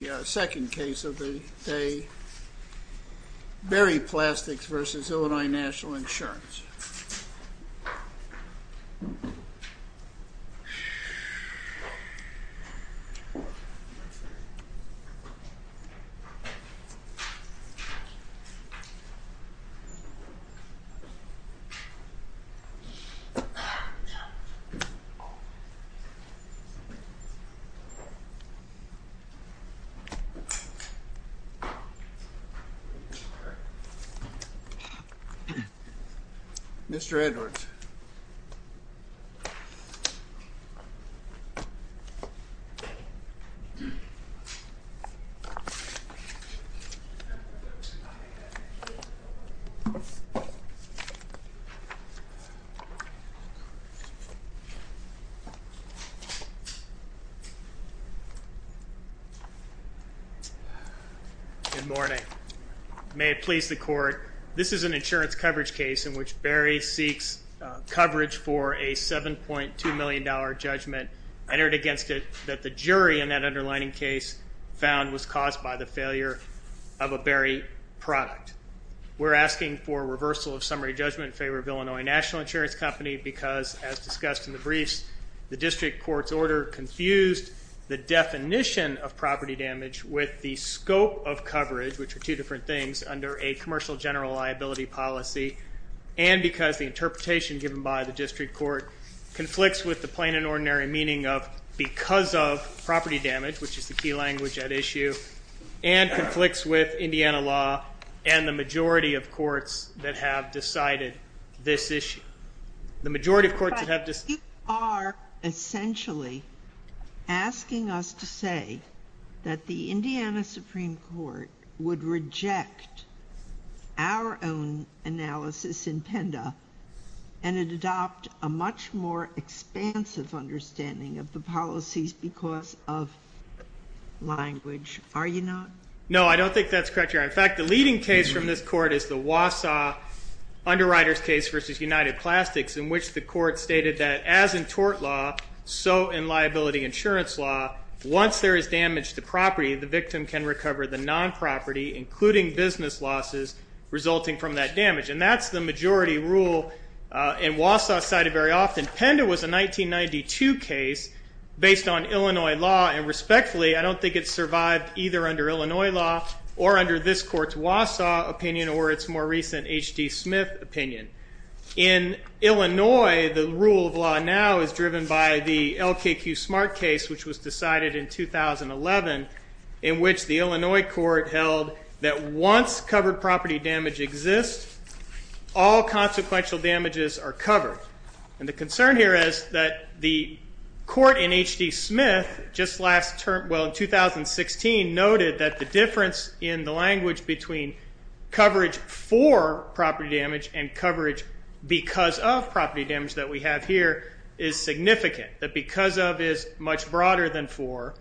The second case of the day, Berry Plastics v. Illinois National Insurance. Mr. Edwards Good morning. May it please the court, this is an insurance coverage case in which Berry seeks coverage for a $7.2 million judgment entered against it that the jury in that underlining case found was caused by the failure of a Berry product. We're asking for reversal of summary judgment in favor of Illinois National Insurance Company because, as discussed in the briefs, the district court's order confused the definition of property damage with the scope of coverage, which are two different things, under a commercial general liability policy. And because the interpretation given by the district court conflicts with the plain and ordinary meaning of because of property damage, which is the key language at issue, and conflicts with Indiana law and the majority of courts that have decided this issue. But you are essentially asking us to say that the Indiana Supreme Court would reject our own analysis in PENDA and adopt a much more expansive understanding of the policies because of language, are you not? No, I don't think that's correct, Your Honor. In fact, the leading case from this court is the Wausau Underwriters case v. United Plastics, in which the court stated that, as in tort law, so in liability insurance law, once there is damage to property, the victim can recover the non-property, including business losses, resulting from that damage. And that's the majority rule in Wausau cited very often. PENDA was a 1992 case based on Illinois law, and respectfully, I don't think it survived either under Illinois law or under this court's Wausau opinion or its more recent H.D. Smith opinion. In Illinois, the rule of law now is driven by the LKQ Smart case, which was decided in 2011, in which the Illinois court held that once covered property damage exists, all consequential damages are covered. And the concern here is that the court in H.D. Smith, just last term, well, in 2016, noted that the difference in the language between coverage for property damage and coverage because of property damage that we have here is significant. That because of is much broader than for,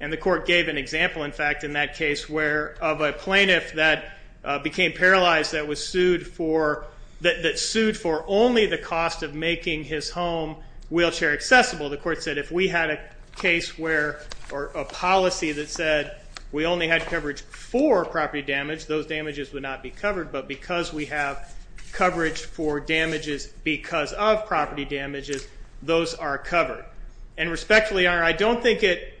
and the court gave an example, in fact, in that case where, of a plaintiff that became paralyzed that was sued for, that sued for only the cost of making his home wheelchair accessible. The court said if we had a case where, or a policy that said we only had coverage for property damage, those damages would not be covered, but because we have coverage for damages because of property damages, those are covered. And respectfully, I don't think it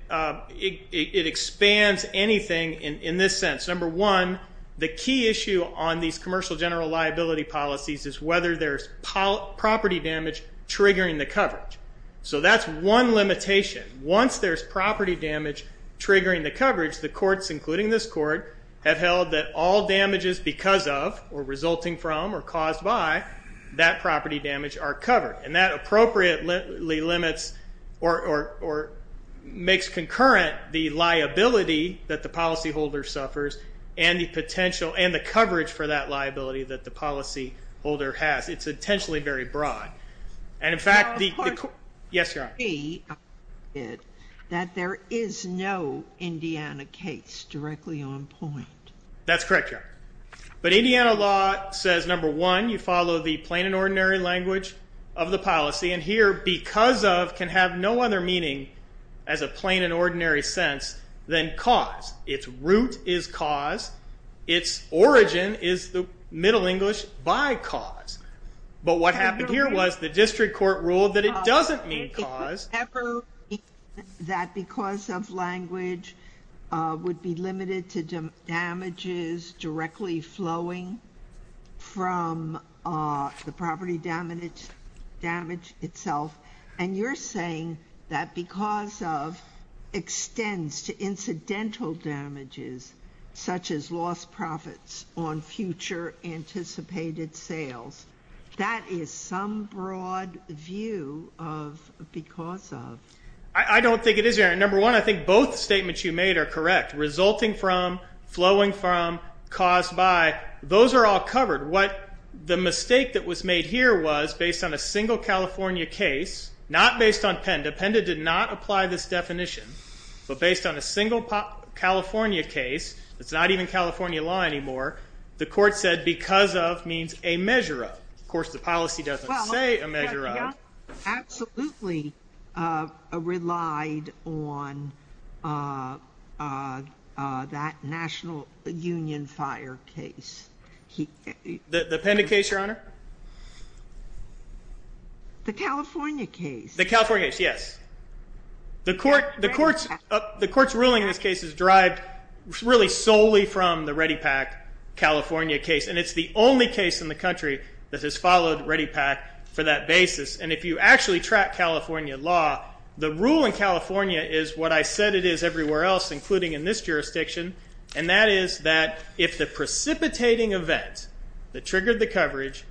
expands anything in this sense. Number one, the key issue on these commercial general liability policies is whether there's property damage triggering the coverage. So that's one limitation. Once there's property damage triggering the coverage, the courts, including this court, have held that all damages because of, or resulting from, or caused by, that property damage are covered. And that appropriately limits, or makes concurrent the liability that the policyholder suffers and the potential, and the coverage for that liability that the policyholder has. It's intentionally very broad. And in fact, the court, yes, Your Honor. That there is no Indiana case directly on point. That's correct, Your Honor. But Indiana law says, number one, you follow the plain and ordinary language of the policy. And here, because of can have no other meaning as a plain and ordinary sense than cause. Its root is cause. Its origin is the Middle English by cause. But what happened here was the district court ruled that it doesn't mean cause. Does it ever mean that because of language would be limited to damages directly flowing from the property damage itself? And you're saying that because of extends to incidental damages, such as lost profits on future anticipated sales. That is some broad view of because of. I don't think it is, Your Honor. Number one, I think both statements you made are correct. Resulting from, flowing from, caused by, those are all covered. What the mistake that was made here was, based on a single California case, not based on PENDA. PENDA did not apply this definition. But based on a single California case, it's not even California law anymore. The court said because of means a measure of. Of course, the policy doesn't say a measure of. Absolutely relied on that National Union Fire case. The PENDA case, Your Honor? The California case. The California case, yes. The court's ruling in this case is derived really solely from the ReadyPAC California case. And it's the only case in the country that has followed ReadyPAC for that basis. And if you actually track California law, the rule in California is what I said it is everywhere else, including in this jurisdiction. And that is that if the precipitating event that triggered the coverage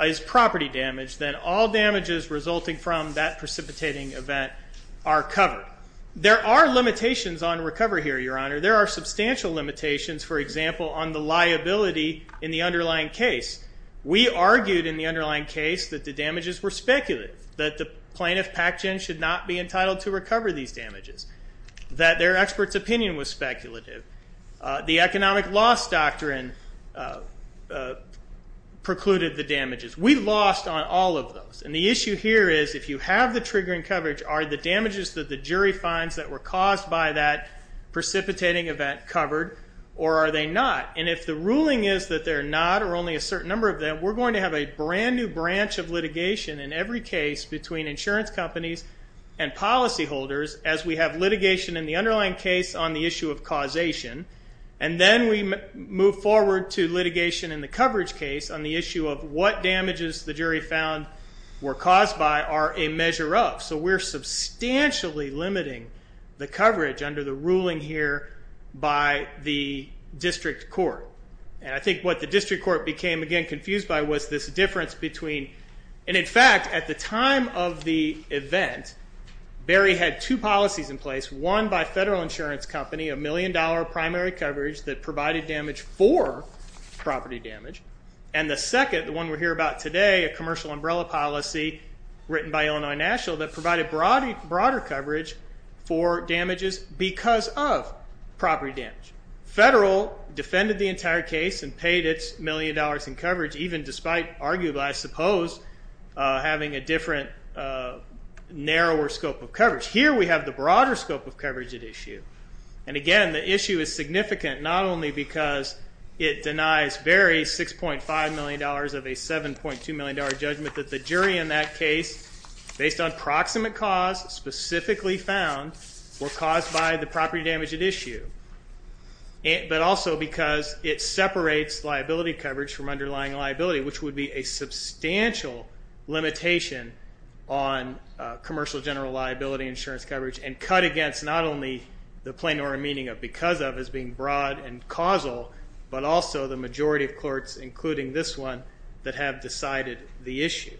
is property damage, then all damages resulting from that precipitating event are covered. There are limitations on recovery here, Your Honor. There are substantial limitations, for example, on the liability in the underlying case. We argued in the underlying case that the damages were speculative. That the plaintiff PACGEN should not be entitled to recover these damages. That their expert's opinion was speculative. The economic loss doctrine precluded the damages. We lost on all of those. And the issue here is if you have the triggering coverage, are the damages that the jury finds that were caused by that precipitating event covered or are they not? And if the ruling is that they're not or only a certain number of them, we're going to have a brand new branch of litigation in every case between insurance companies and policyholders as we have litigation in the underlying case on the issue of causation. And then we move forward to litigation in the coverage case on the issue of what damages the jury found were caused by are a measure of. So we're substantially limiting the coverage under the ruling here by the district court. And I think what the district court became, again, confused by was this difference between, and in fact, at the time of the event, Barry had two policies in place. One by Federal Insurance Company, a million dollar primary coverage that provided damage for property damage. And the second, the one we're here about today, a commercial umbrella policy written by Illinois National that provided broader coverage for damages because of property damage. Federal defended the entire case and paid its million dollars in coverage, even despite arguably, I suppose, having a different narrower scope of coverage. Here we have the broader scope of coverage at issue. And, again, the issue is significant not only because it denies Barry $6.5 million of a $7.2 million judgment that the jury in that case, based on proximate cause specifically found, were caused by the property damage at issue, but also because it separates liability coverage from underlying liability, which would be a substantial limitation on commercial general liability insurance coverage and cut against not only the plain or a meaning of because of as being broad and causal, but also the majority of courts, including this one, that have decided the issue.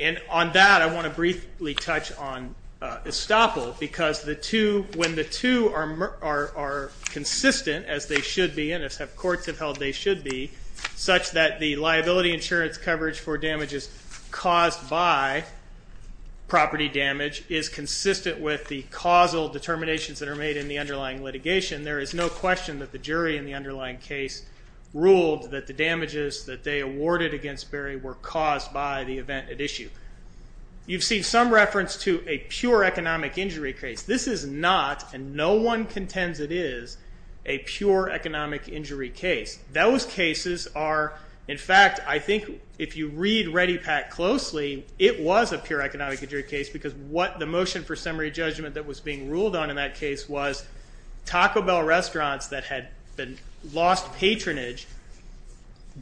And on that, I want to briefly touch on estoppel because when the two are consistent, as they should be and as courts have held they should be, such that the liability insurance coverage for damages caused by property damage is consistent with the causal determinations that are made in the underlying litigation, there is no question that the jury in the underlying case ruled that the damages that they awarded against Barry were caused by the event at issue. You've seen some reference to a pure economic injury case. This is not, and no one contends it is, a pure economic injury case. Those cases are, in fact, I think if you read Ready Pack closely, it was a pure economic injury case because what the motion for summary judgment that was being ruled on in that case was that had been lost patronage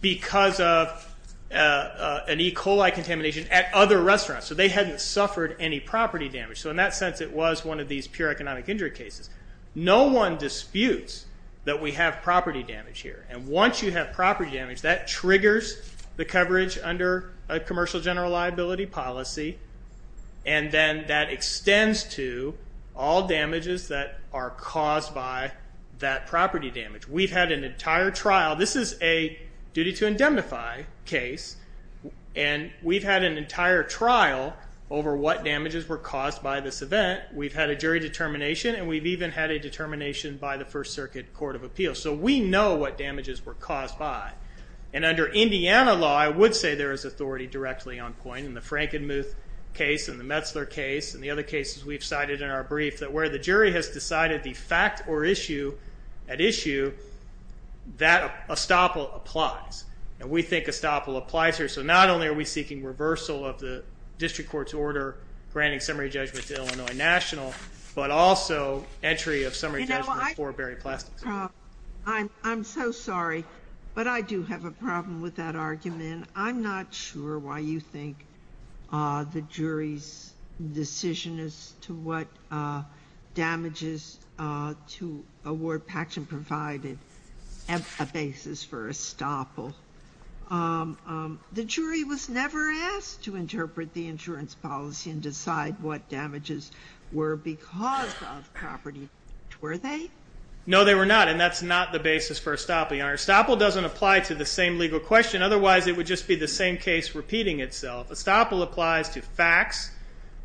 because of an E. coli contamination at other restaurants. So they hadn't suffered any property damage. So in that sense, it was one of these pure economic injury cases. No one disputes that we have property damage here. And once you have property damage, that triggers the coverage under a commercial general liability policy and then that extends to all damages that are caused by that property damage. We've had an entire trial. This is a duty to indemnify case, and we've had an entire trial over what damages were caused by this event. We've had a jury determination, and we've even had a determination by the First Circuit Court of Appeals. So we know what damages were caused by. And under Indiana law, I would say there is authority directly on point, in the Frankenmuth case and the Metzler case and the other cases we've cited in our brief, that where the jury has decided the fact or issue at issue, that estoppel applies. And we think estoppel applies here. So not only are we seeking reversal of the district court's order granting summary judgment to Illinois National, but also entry of summary judgment for Berry Plastics. I'm so sorry, but I do have a problem with that argument. I'm not sure why you think the jury's decision as to what damages to award Paxson provided is a basis for estoppel. The jury was never asked to interpret the insurance policy and decide what damages were because of property damage. Were they? No, they were not, and that's not the basis for estoppel, Your Honor. Estoppel doesn't apply to the same legal question. Otherwise, it would just be the same case repeating itself. Estoppel applies to facts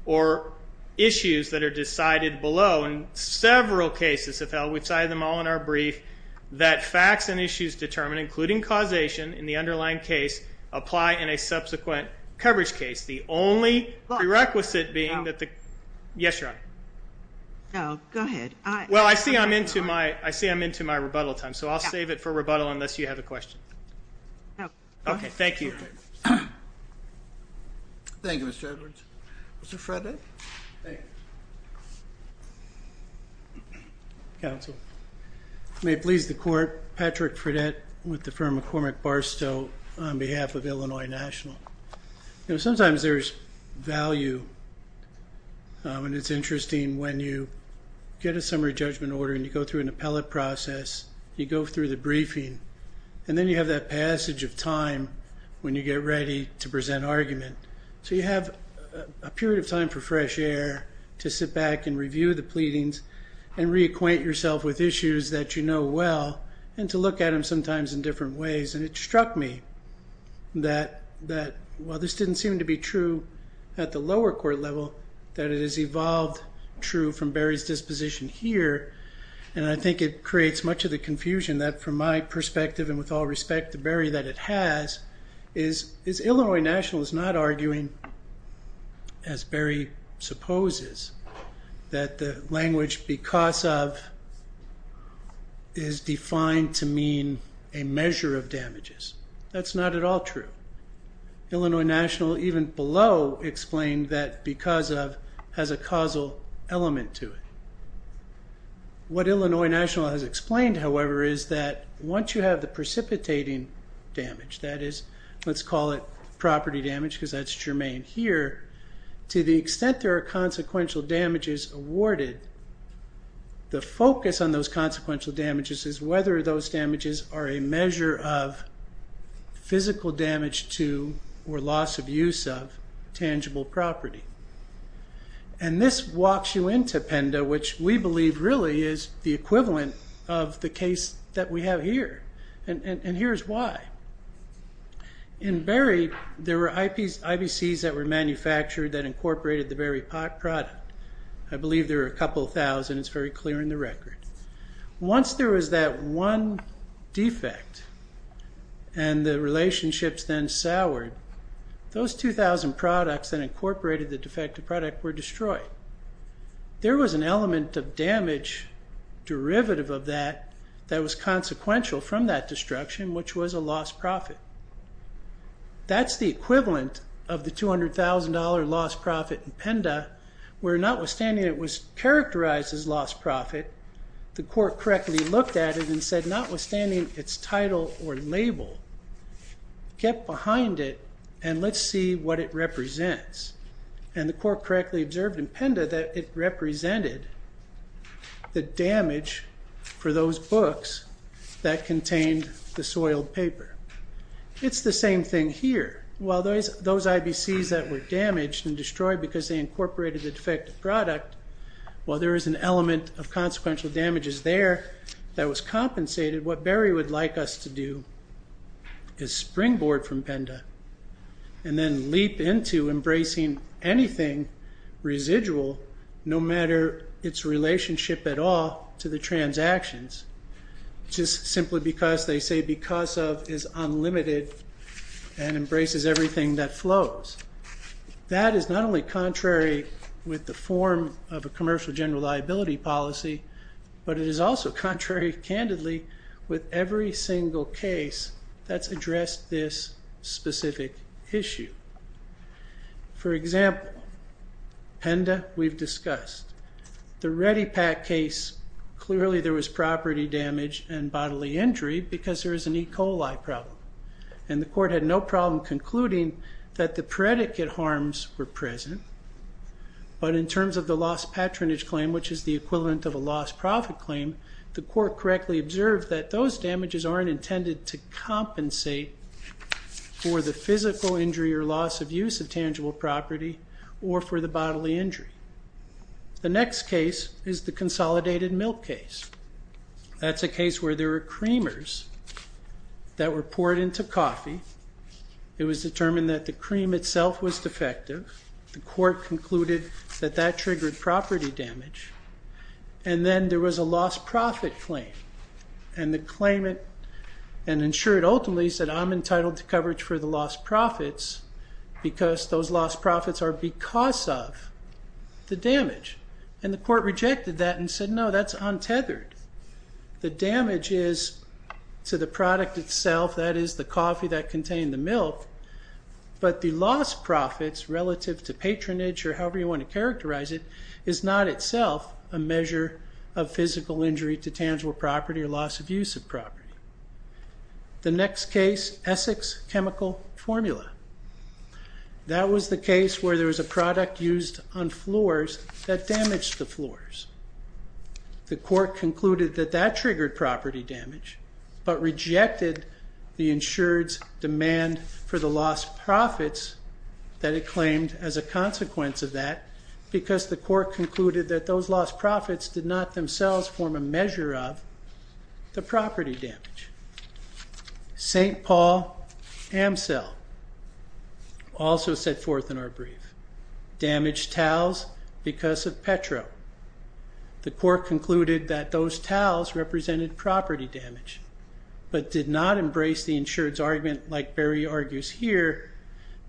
or issues that are decided below. In several cases, if held, we've cited them all in our brief, that facts and issues determined, including causation in the underlying case, apply in a subsequent coverage case. The only prerequisite being that the – yes, Your Honor. No, go ahead. Well, I see I'm into my rebuttal time, so I'll save it for rebuttal unless you have a question. Okay. Okay, thank you. Thank you, Mr. Edwards. Mr. Fredett? Counsel, may it please the Court, Patrick Fredett with the firm McCormick Barstow on behalf of Illinois National. You know, sometimes there's value, and it's interesting when you get a summary judgment order and you go through an appellate process, you go through the briefing, and then you have that passage of time when you get ready to present argument. So you have a period of time for fresh air to sit back and review the pleadings and reacquaint yourself with issues that you know well and to look at them sometimes in different ways. And it struck me that while this didn't seem to be true at the lower court level, that it has evolved true from Barry's disposition here, and I think it creates much of the confusion that, from my perspective and with all respect to Barry, that it has is Illinois National is not arguing, as Barry supposes, that the language because of is defined to mean a measure of damages. That's not at all true. Illinois National, even below, explained that because of has a causal element to it. What Illinois National has explained, however, is that once you have the precipitating damage, that is, let's call it property damage because that's germane here, to the extent there are consequential damages awarded, the focus on those consequential damages is whether those damages are a measure of physical damage to or loss of use of tangible property. And this walks you into PENDA, which we believe really is the equivalent of the case that we have here. And here's why. In Barry, there were IBCs that were manufactured that incorporated the Barry product. I believe there were a couple thousand. It's very clear in the record. Once there was that one defect and the relationships then soured, those 2,000 products that incorporated the defective product were destroyed. There was an element of damage derivative of that that was consequential from that destruction, which was a lost profit. That's the equivalent of the $200,000 lost profit in PENDA, where notwithstanding it was characterized as lost profit, the court correctly looked at it and said, notwithstanding its title or label, get behind it and let's see what it represents. And the court correctly observed in PENDA that it represented the damage for those books that contained the soiled paper. It's the same thing here. While those IBCs that were damaged and destroyed because they incorporated the defective product, while there is an element of consequential damages there that was compensated, what Barry would like us to do is springboard from PENDA and then leap into embracing anything residual, no matter its relationship at all to the transactions, just simply because they say because of is unlimited and embraces everything that flows. That is not only contrary with the form of a commercial general liability policy, but it is also contrary, candidly, with every single case that's addressed this specific issue. For example, PENDA, we've discussed. The Ready Pack case, clearly there was property damage and bodily injury because there is an E. coli problem. And the court had no problem concluding that the predicate harms were present, but in terms of the lost patronage claim, which is the equivalent of a lost profit claim, the court correctly observed that those damages aren't intended to compensate for the physical injury or loss of use of tangible property or for the bodily injury. The next case is the consolidated milk case. That's a case where there are creamers that were poured into coffee. It was determined that the cream itself was defective. The court concluded that that triggered property damage. And then there was a lost profit claim. And the claimant and insured ultimately said, I'm entitled to coverage for the lost profits because those lost profits are because of the damage. And the court rejected that and said, no, that's untethered. The damage is to the product itself, that is the coffee that contained the milk, but the lost profits relative to patronage or however you want to characterize it is not itself a measure of physical injury to tangible property or loss of use of property. The next case, Essex chemical formula. That was the case where there was a product used on floors that damaged the floors. The court concluded that that triggered property damage, but rejected the insured's demand for the lost profits that it claimed as a consequence of that because the court concluded that those lost profits did not themselves form a measure of the property damage. St. Paul Amcel also set forth in our brief. Damaged towels because of Petro. The court concluded that those towels represented property damage, but did not embrace the insured's argument like Barry argues here,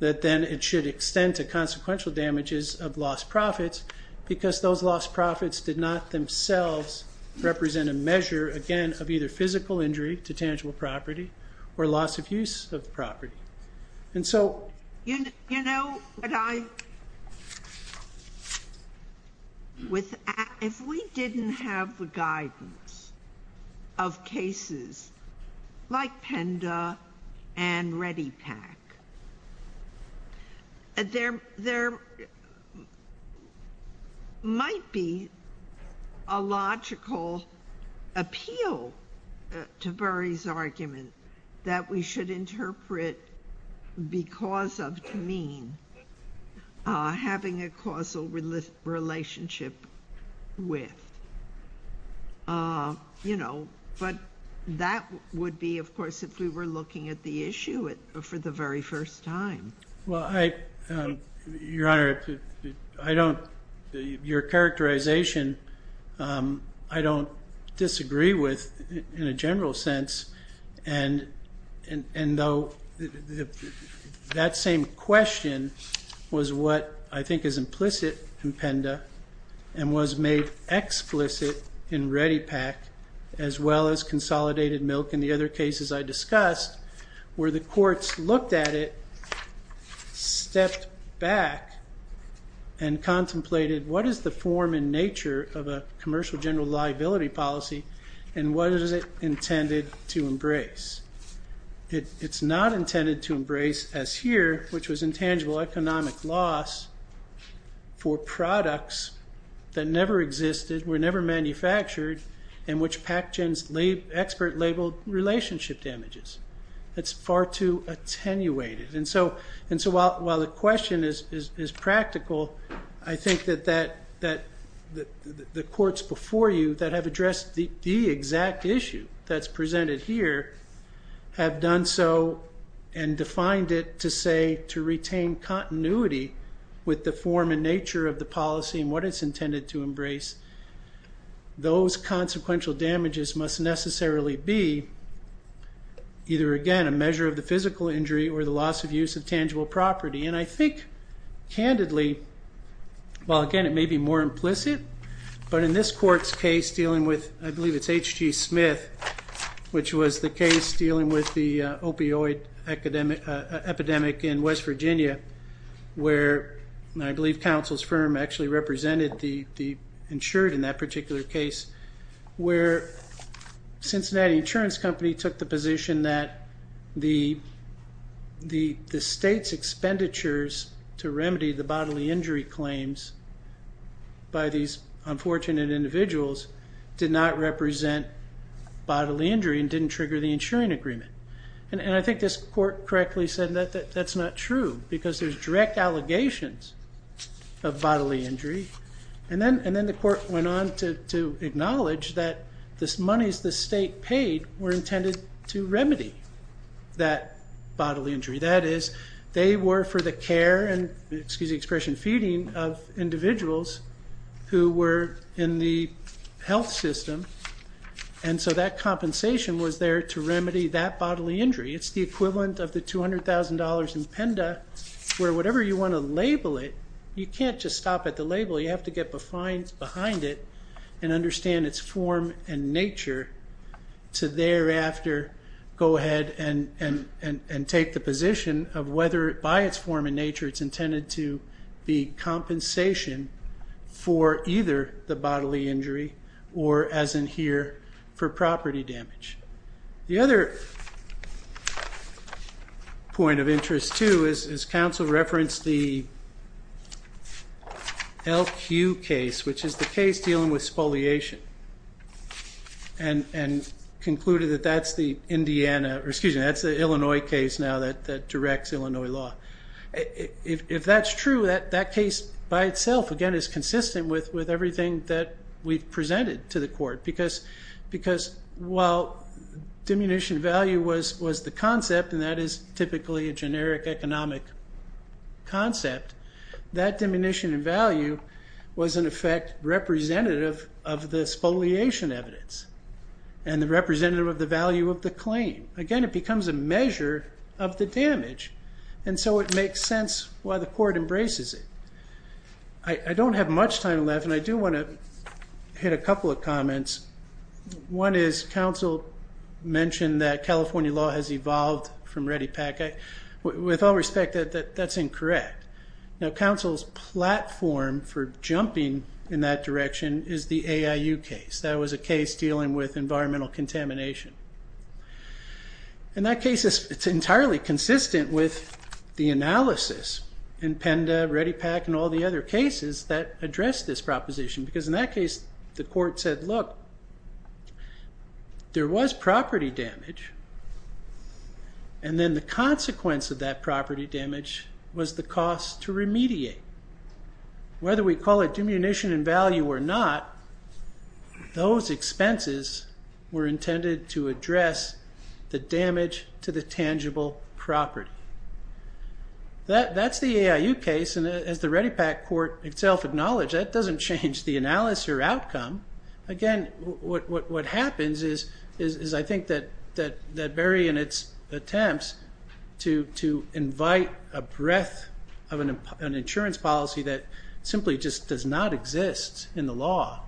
that then it should extend to consequential damages of lost profits because those lost profits did not themselves represent a measure, again, of either physical injury to tangible property or loss of use of property. And so. You know, if we didn't have the guidance of cases like Penda and Ready Pack, there might be a logical appeal to Barry's argument that we should interpret because of to mean having a causal relationship with. You know, but that would be, of course, if we were looking at the issue for the very first time. Well, I your honor, I don't your characterization. I don't disagree with in a general sense. And and though that same question was what I think is implicit in Penda and was made explicit in Ready Pack, as well as consolidated milk. And the other cases I discussed where the courts looked at it, stepped back and contemplated what is the form and nature of a commercial general liability policy? And what is it intended to embrace? It's not intended to embrace as here, which was intangible economic loss for products that never existed, were never manufactured, and which Pac-Gen's expert labeled relationship damages. That's far too attenuated. And so while the question is practical, I think that the courts before you that have addressed the exact issue that's presented here have done so and defined it to say to retain continuity with the form and nature of the policy and what it's intended to embrace. Those consequential damages must necessarily be either, again, a measure of the physical injury or the loss of use of tangible property. And I think candidly, well, again, it may be more implicit, but in this court's case dealing with, I believe it's H.G. Smith, which was the case dealing with the opioid epidemic in West Virginia where I believe counsel's firm actually represented the insured in that particular case, where Cincinnati Insurance Company took the position that the state's expenditures to remedy the bodily injury claims by these unfortunate individuals did not represent bodily injury and didn't trigger the insuring agreement. And I think this court correctly said that that's not true because there's direct allegations of bodily injury. And then the court went on to acknowledge that the monies the state paid were intended to remedy that bodily injury. That is, they were for the care and, excuse the expression, feeding of individuals who were in the health system. And so that compensation was there to remedy that bodily injury. It's the equivalent of the $200,000 in PENDA where whatever you want to label it, you can't just stop at the label. You have to get behind it and understand its form and nature to thereafter go ahead and take the position of whether by its form and nature it's intended to be compensation for either the bodily injury or, as in here, for property damage. The other point of interest, too, is counsel referenced the LQ case, which is the case dealing with spoliation, and concluded that that's the Illinois case now that directs Illinois law. If that's true, that case by itself, again, is consistent with everything that we've presented to the court because while diminution value was the concept, and that is typically a generic economic concept, that diminution in value was, in effect, representative of the spoliation evidence and the representative of the value of the claim. Again, it becomes a measure of the damage. And so it makes sense why the court embraces it. I don't have much time left, and I do want to hit a couple of comments. One is counsel mentioned that California law has evolved from ReadyPAC. With all respect, that's incorrect. Now, counsel's platform for jumping in that direction is the AIU case. That was a case dealing with environmental contamination. In that case, it's entirely consistent with the analysis in PENDA, ReadyPAC, and all the other cases that address this proposition because in that case, the court said, look, there was property damage, and then the consequence of that property damage was the cost to remediate. Whether we call it diminution in value or not, those expenses were intended to address the damage to the tangible property. That's the AIU case, and as the ReadyPAC court itself acknowledged, that doesn't change the analysis or outcome. Again, what happens is, I think, that Berry in its attempts to invite a breadth of an insurance policy that simply just does not exist in the law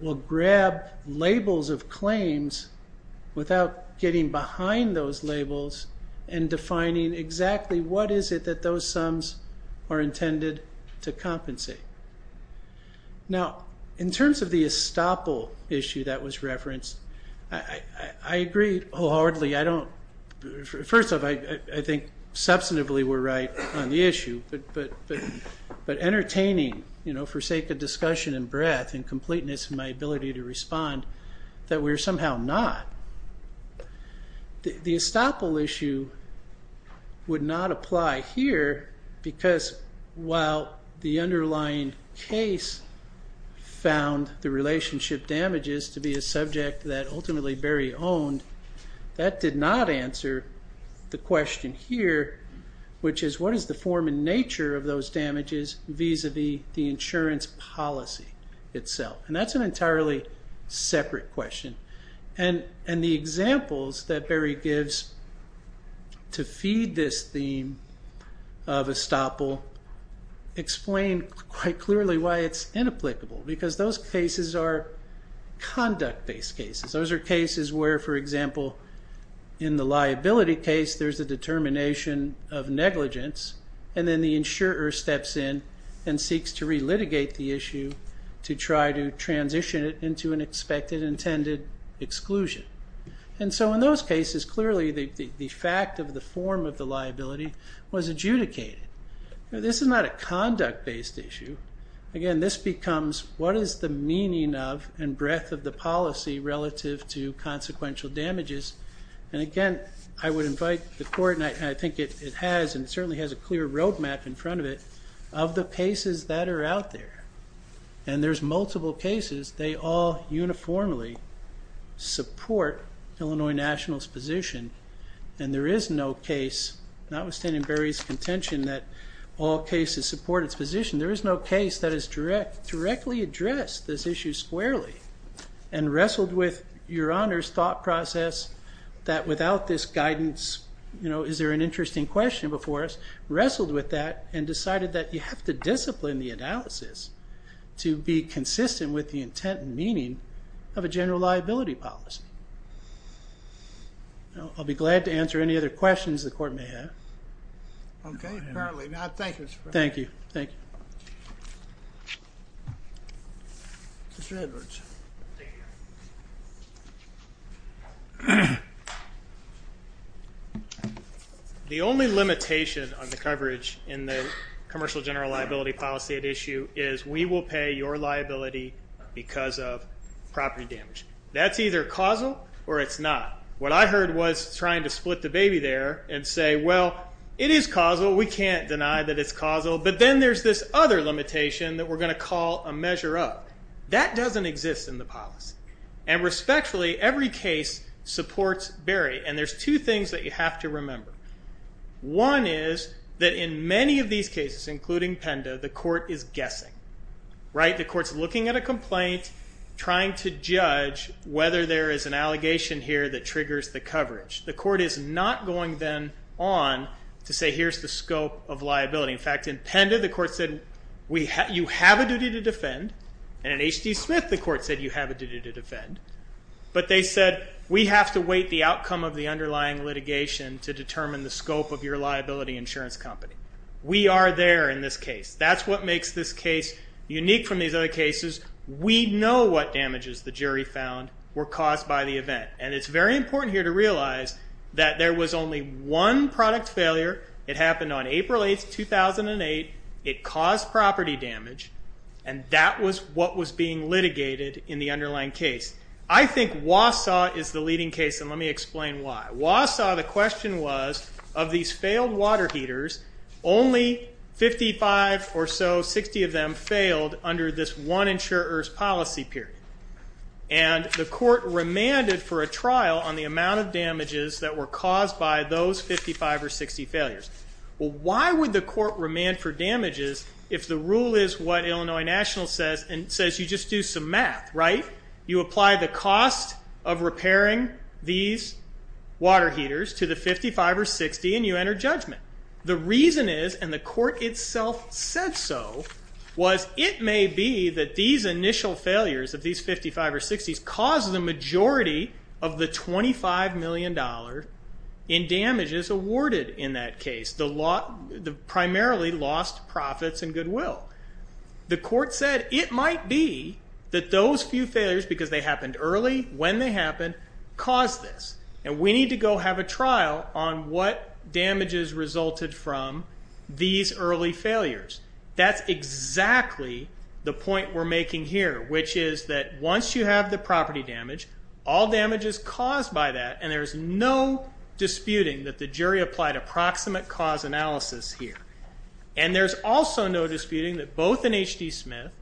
will grab labels of claims without getting behind those labels and defining exactly what is it that those sums are intended to compensate. Now, in terms of the estoppel issue that was referenced, I agree wholeheartedly. First off, I think substantively we're right on the issue, but entertaining for sake of discussion and breadth and completeness and my ability to respond, that we're somehow not. The estoppel issue would not apply here because while the underlying case found the relationship damages to be a subject that ultimately Berry owned, that did not answer the question here, which is what is the form and nature of those damages vis-a-vis the insurance policy itself? That's an entirely separate question. The examples that Berry gives to feed this theme of estoppel explain quite clearly why it's inapplicable because those cases are conduct-based cases. Those are cases where, for example, in the liability case, there's a determination of negligence, and then the insurer steps in and seeks to relitigate the issue to try to transition it into an expected intended exclusion. In those cases, clearly the fact of the form of the liability was adjudicated. This is not a conduct-based issue. Again, this becomes what is the meaning of and breadth of the policy relative to consequential damages. Again, I would invite the court, and I think it has and certainly has a clear roadmap in front of it, of the cases that are out there. There's multiple cases. They all uniformly support Illinois Nationals' position, and there is no case, notwithstanding Berry's contention that all cases support its position, there is no case that has directly addressed this issue squarely and wrestled with Your Honor's thought process that without this guidance, you know, is there an interesting question before us, wrestled with that and decided that you have to discipline the analysis to be consistent with the intent and meaning of a general liability policy. I'll be glad to answer any other questions the court may have. Okay, apparently not. Thank you. Thank you. Thank you. Mr. Edwards. The only limitation on the coverage in the commercial general liability policy at issue is we will pay your liability because of property damage. That's either causal or it's not. What I heard was trying to split the baby there and say, well, it is causal. We can't deny that it's causal, but then there's this other limitation that we're going to call a measure of. That doesn't exist in the policy. Respectfully, every case supports Berry, and there's two things that you have to remember. One is that in many of these cases, including Penda, the court is guessing. The court's looking at a complaint, trying to judge whether there is an allegation here that triggers the coverage. The court is not going then on to say here's the scope of liability. In fact, in Penda the court said you have a duty to defend, and in H.D. Smith the court said you have a duty to defend, but they said we have to wait the outcome of the underlying litigation to determine the scope of your liability insurance company. We are there in this case. That's what makes this case unique from these other cases. We know what damages the jury found were caused by the event, and it's very important here to realize that there was only one product failure. It happened on April 8th, 2008. It caused property damage, and that was what was being litigated in the underlying case. I think Wausau is the leading case, and let me explain why. Wausau, the question was of these failed water heaters, only 55 or so, 60 of them failed under this one insurer's policy period, and the court remanded for a trial on the amount of damages that were caused by those 55 or 60 failures. Well, why would the court remand for damages if the rule is what Illinois National says, and it says you just do some math, right? You apply the cost of repairing these water heaters to the 55 or 60, and you enter judgment. The reason is, and the court itself said so, was it may be that these initial failures of these 55 or 60s caused the majority of the $25 million in damages awarded in that case, primarily lost profits and goodwill. The court said it might be that those few failures, because they happened early when they happened, caused this, and we need to go have a trial on what damages resulted from these early failures. That's exactly the point we're making here, which is that once you have the property damage, all damage is caused by that, and there's no disputing that the jury applied approximate cause analysis here. And there's also no disputing that both in H.D. Smith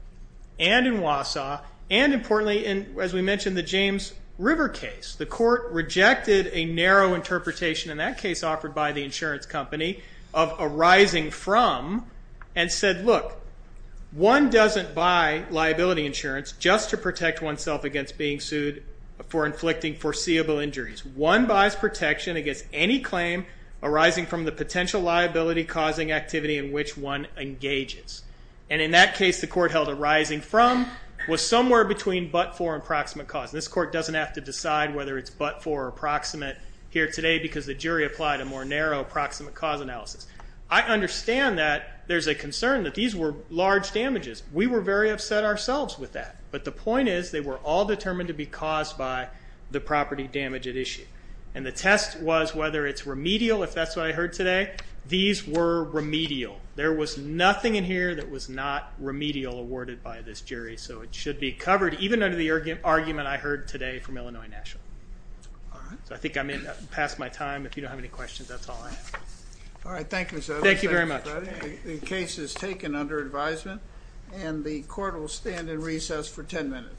and in Wausau, and importantly, as we mentioned, the James River case, the court rejected a narrow interpretation in that case offered by the insurance company of arising from and said, look, one doesn't buy liability insurance just to protect oneself against being sued for inflicting foreseeable injuries. One buys protection against any claim arising from the potential liability-causing activity in which one engages. And in that case, the court held arising from was somewhere between but-for and approximate cause. This court doesn't have to decide whether it's but-for or approximate here today because the jury applied a more narrow approximate cause analysis. I understand that there's a concern that these were large damages. We were very upset ourselves with that, but the point is they were all determined to be caused by the property damage at issue. And the test was whether it's remedial, if that's what I heard today. These were remedial. There was nothing in here that was not remedial awarded by this jury, so it should be covered even under the argument I heard today from Illinois National. So I think I'm past my time. If you don't have any questions, that's all I have. All right, thank you, sir. Thank you very much. The case is taken under advisement, and the court will stand in recess for 10 minutes.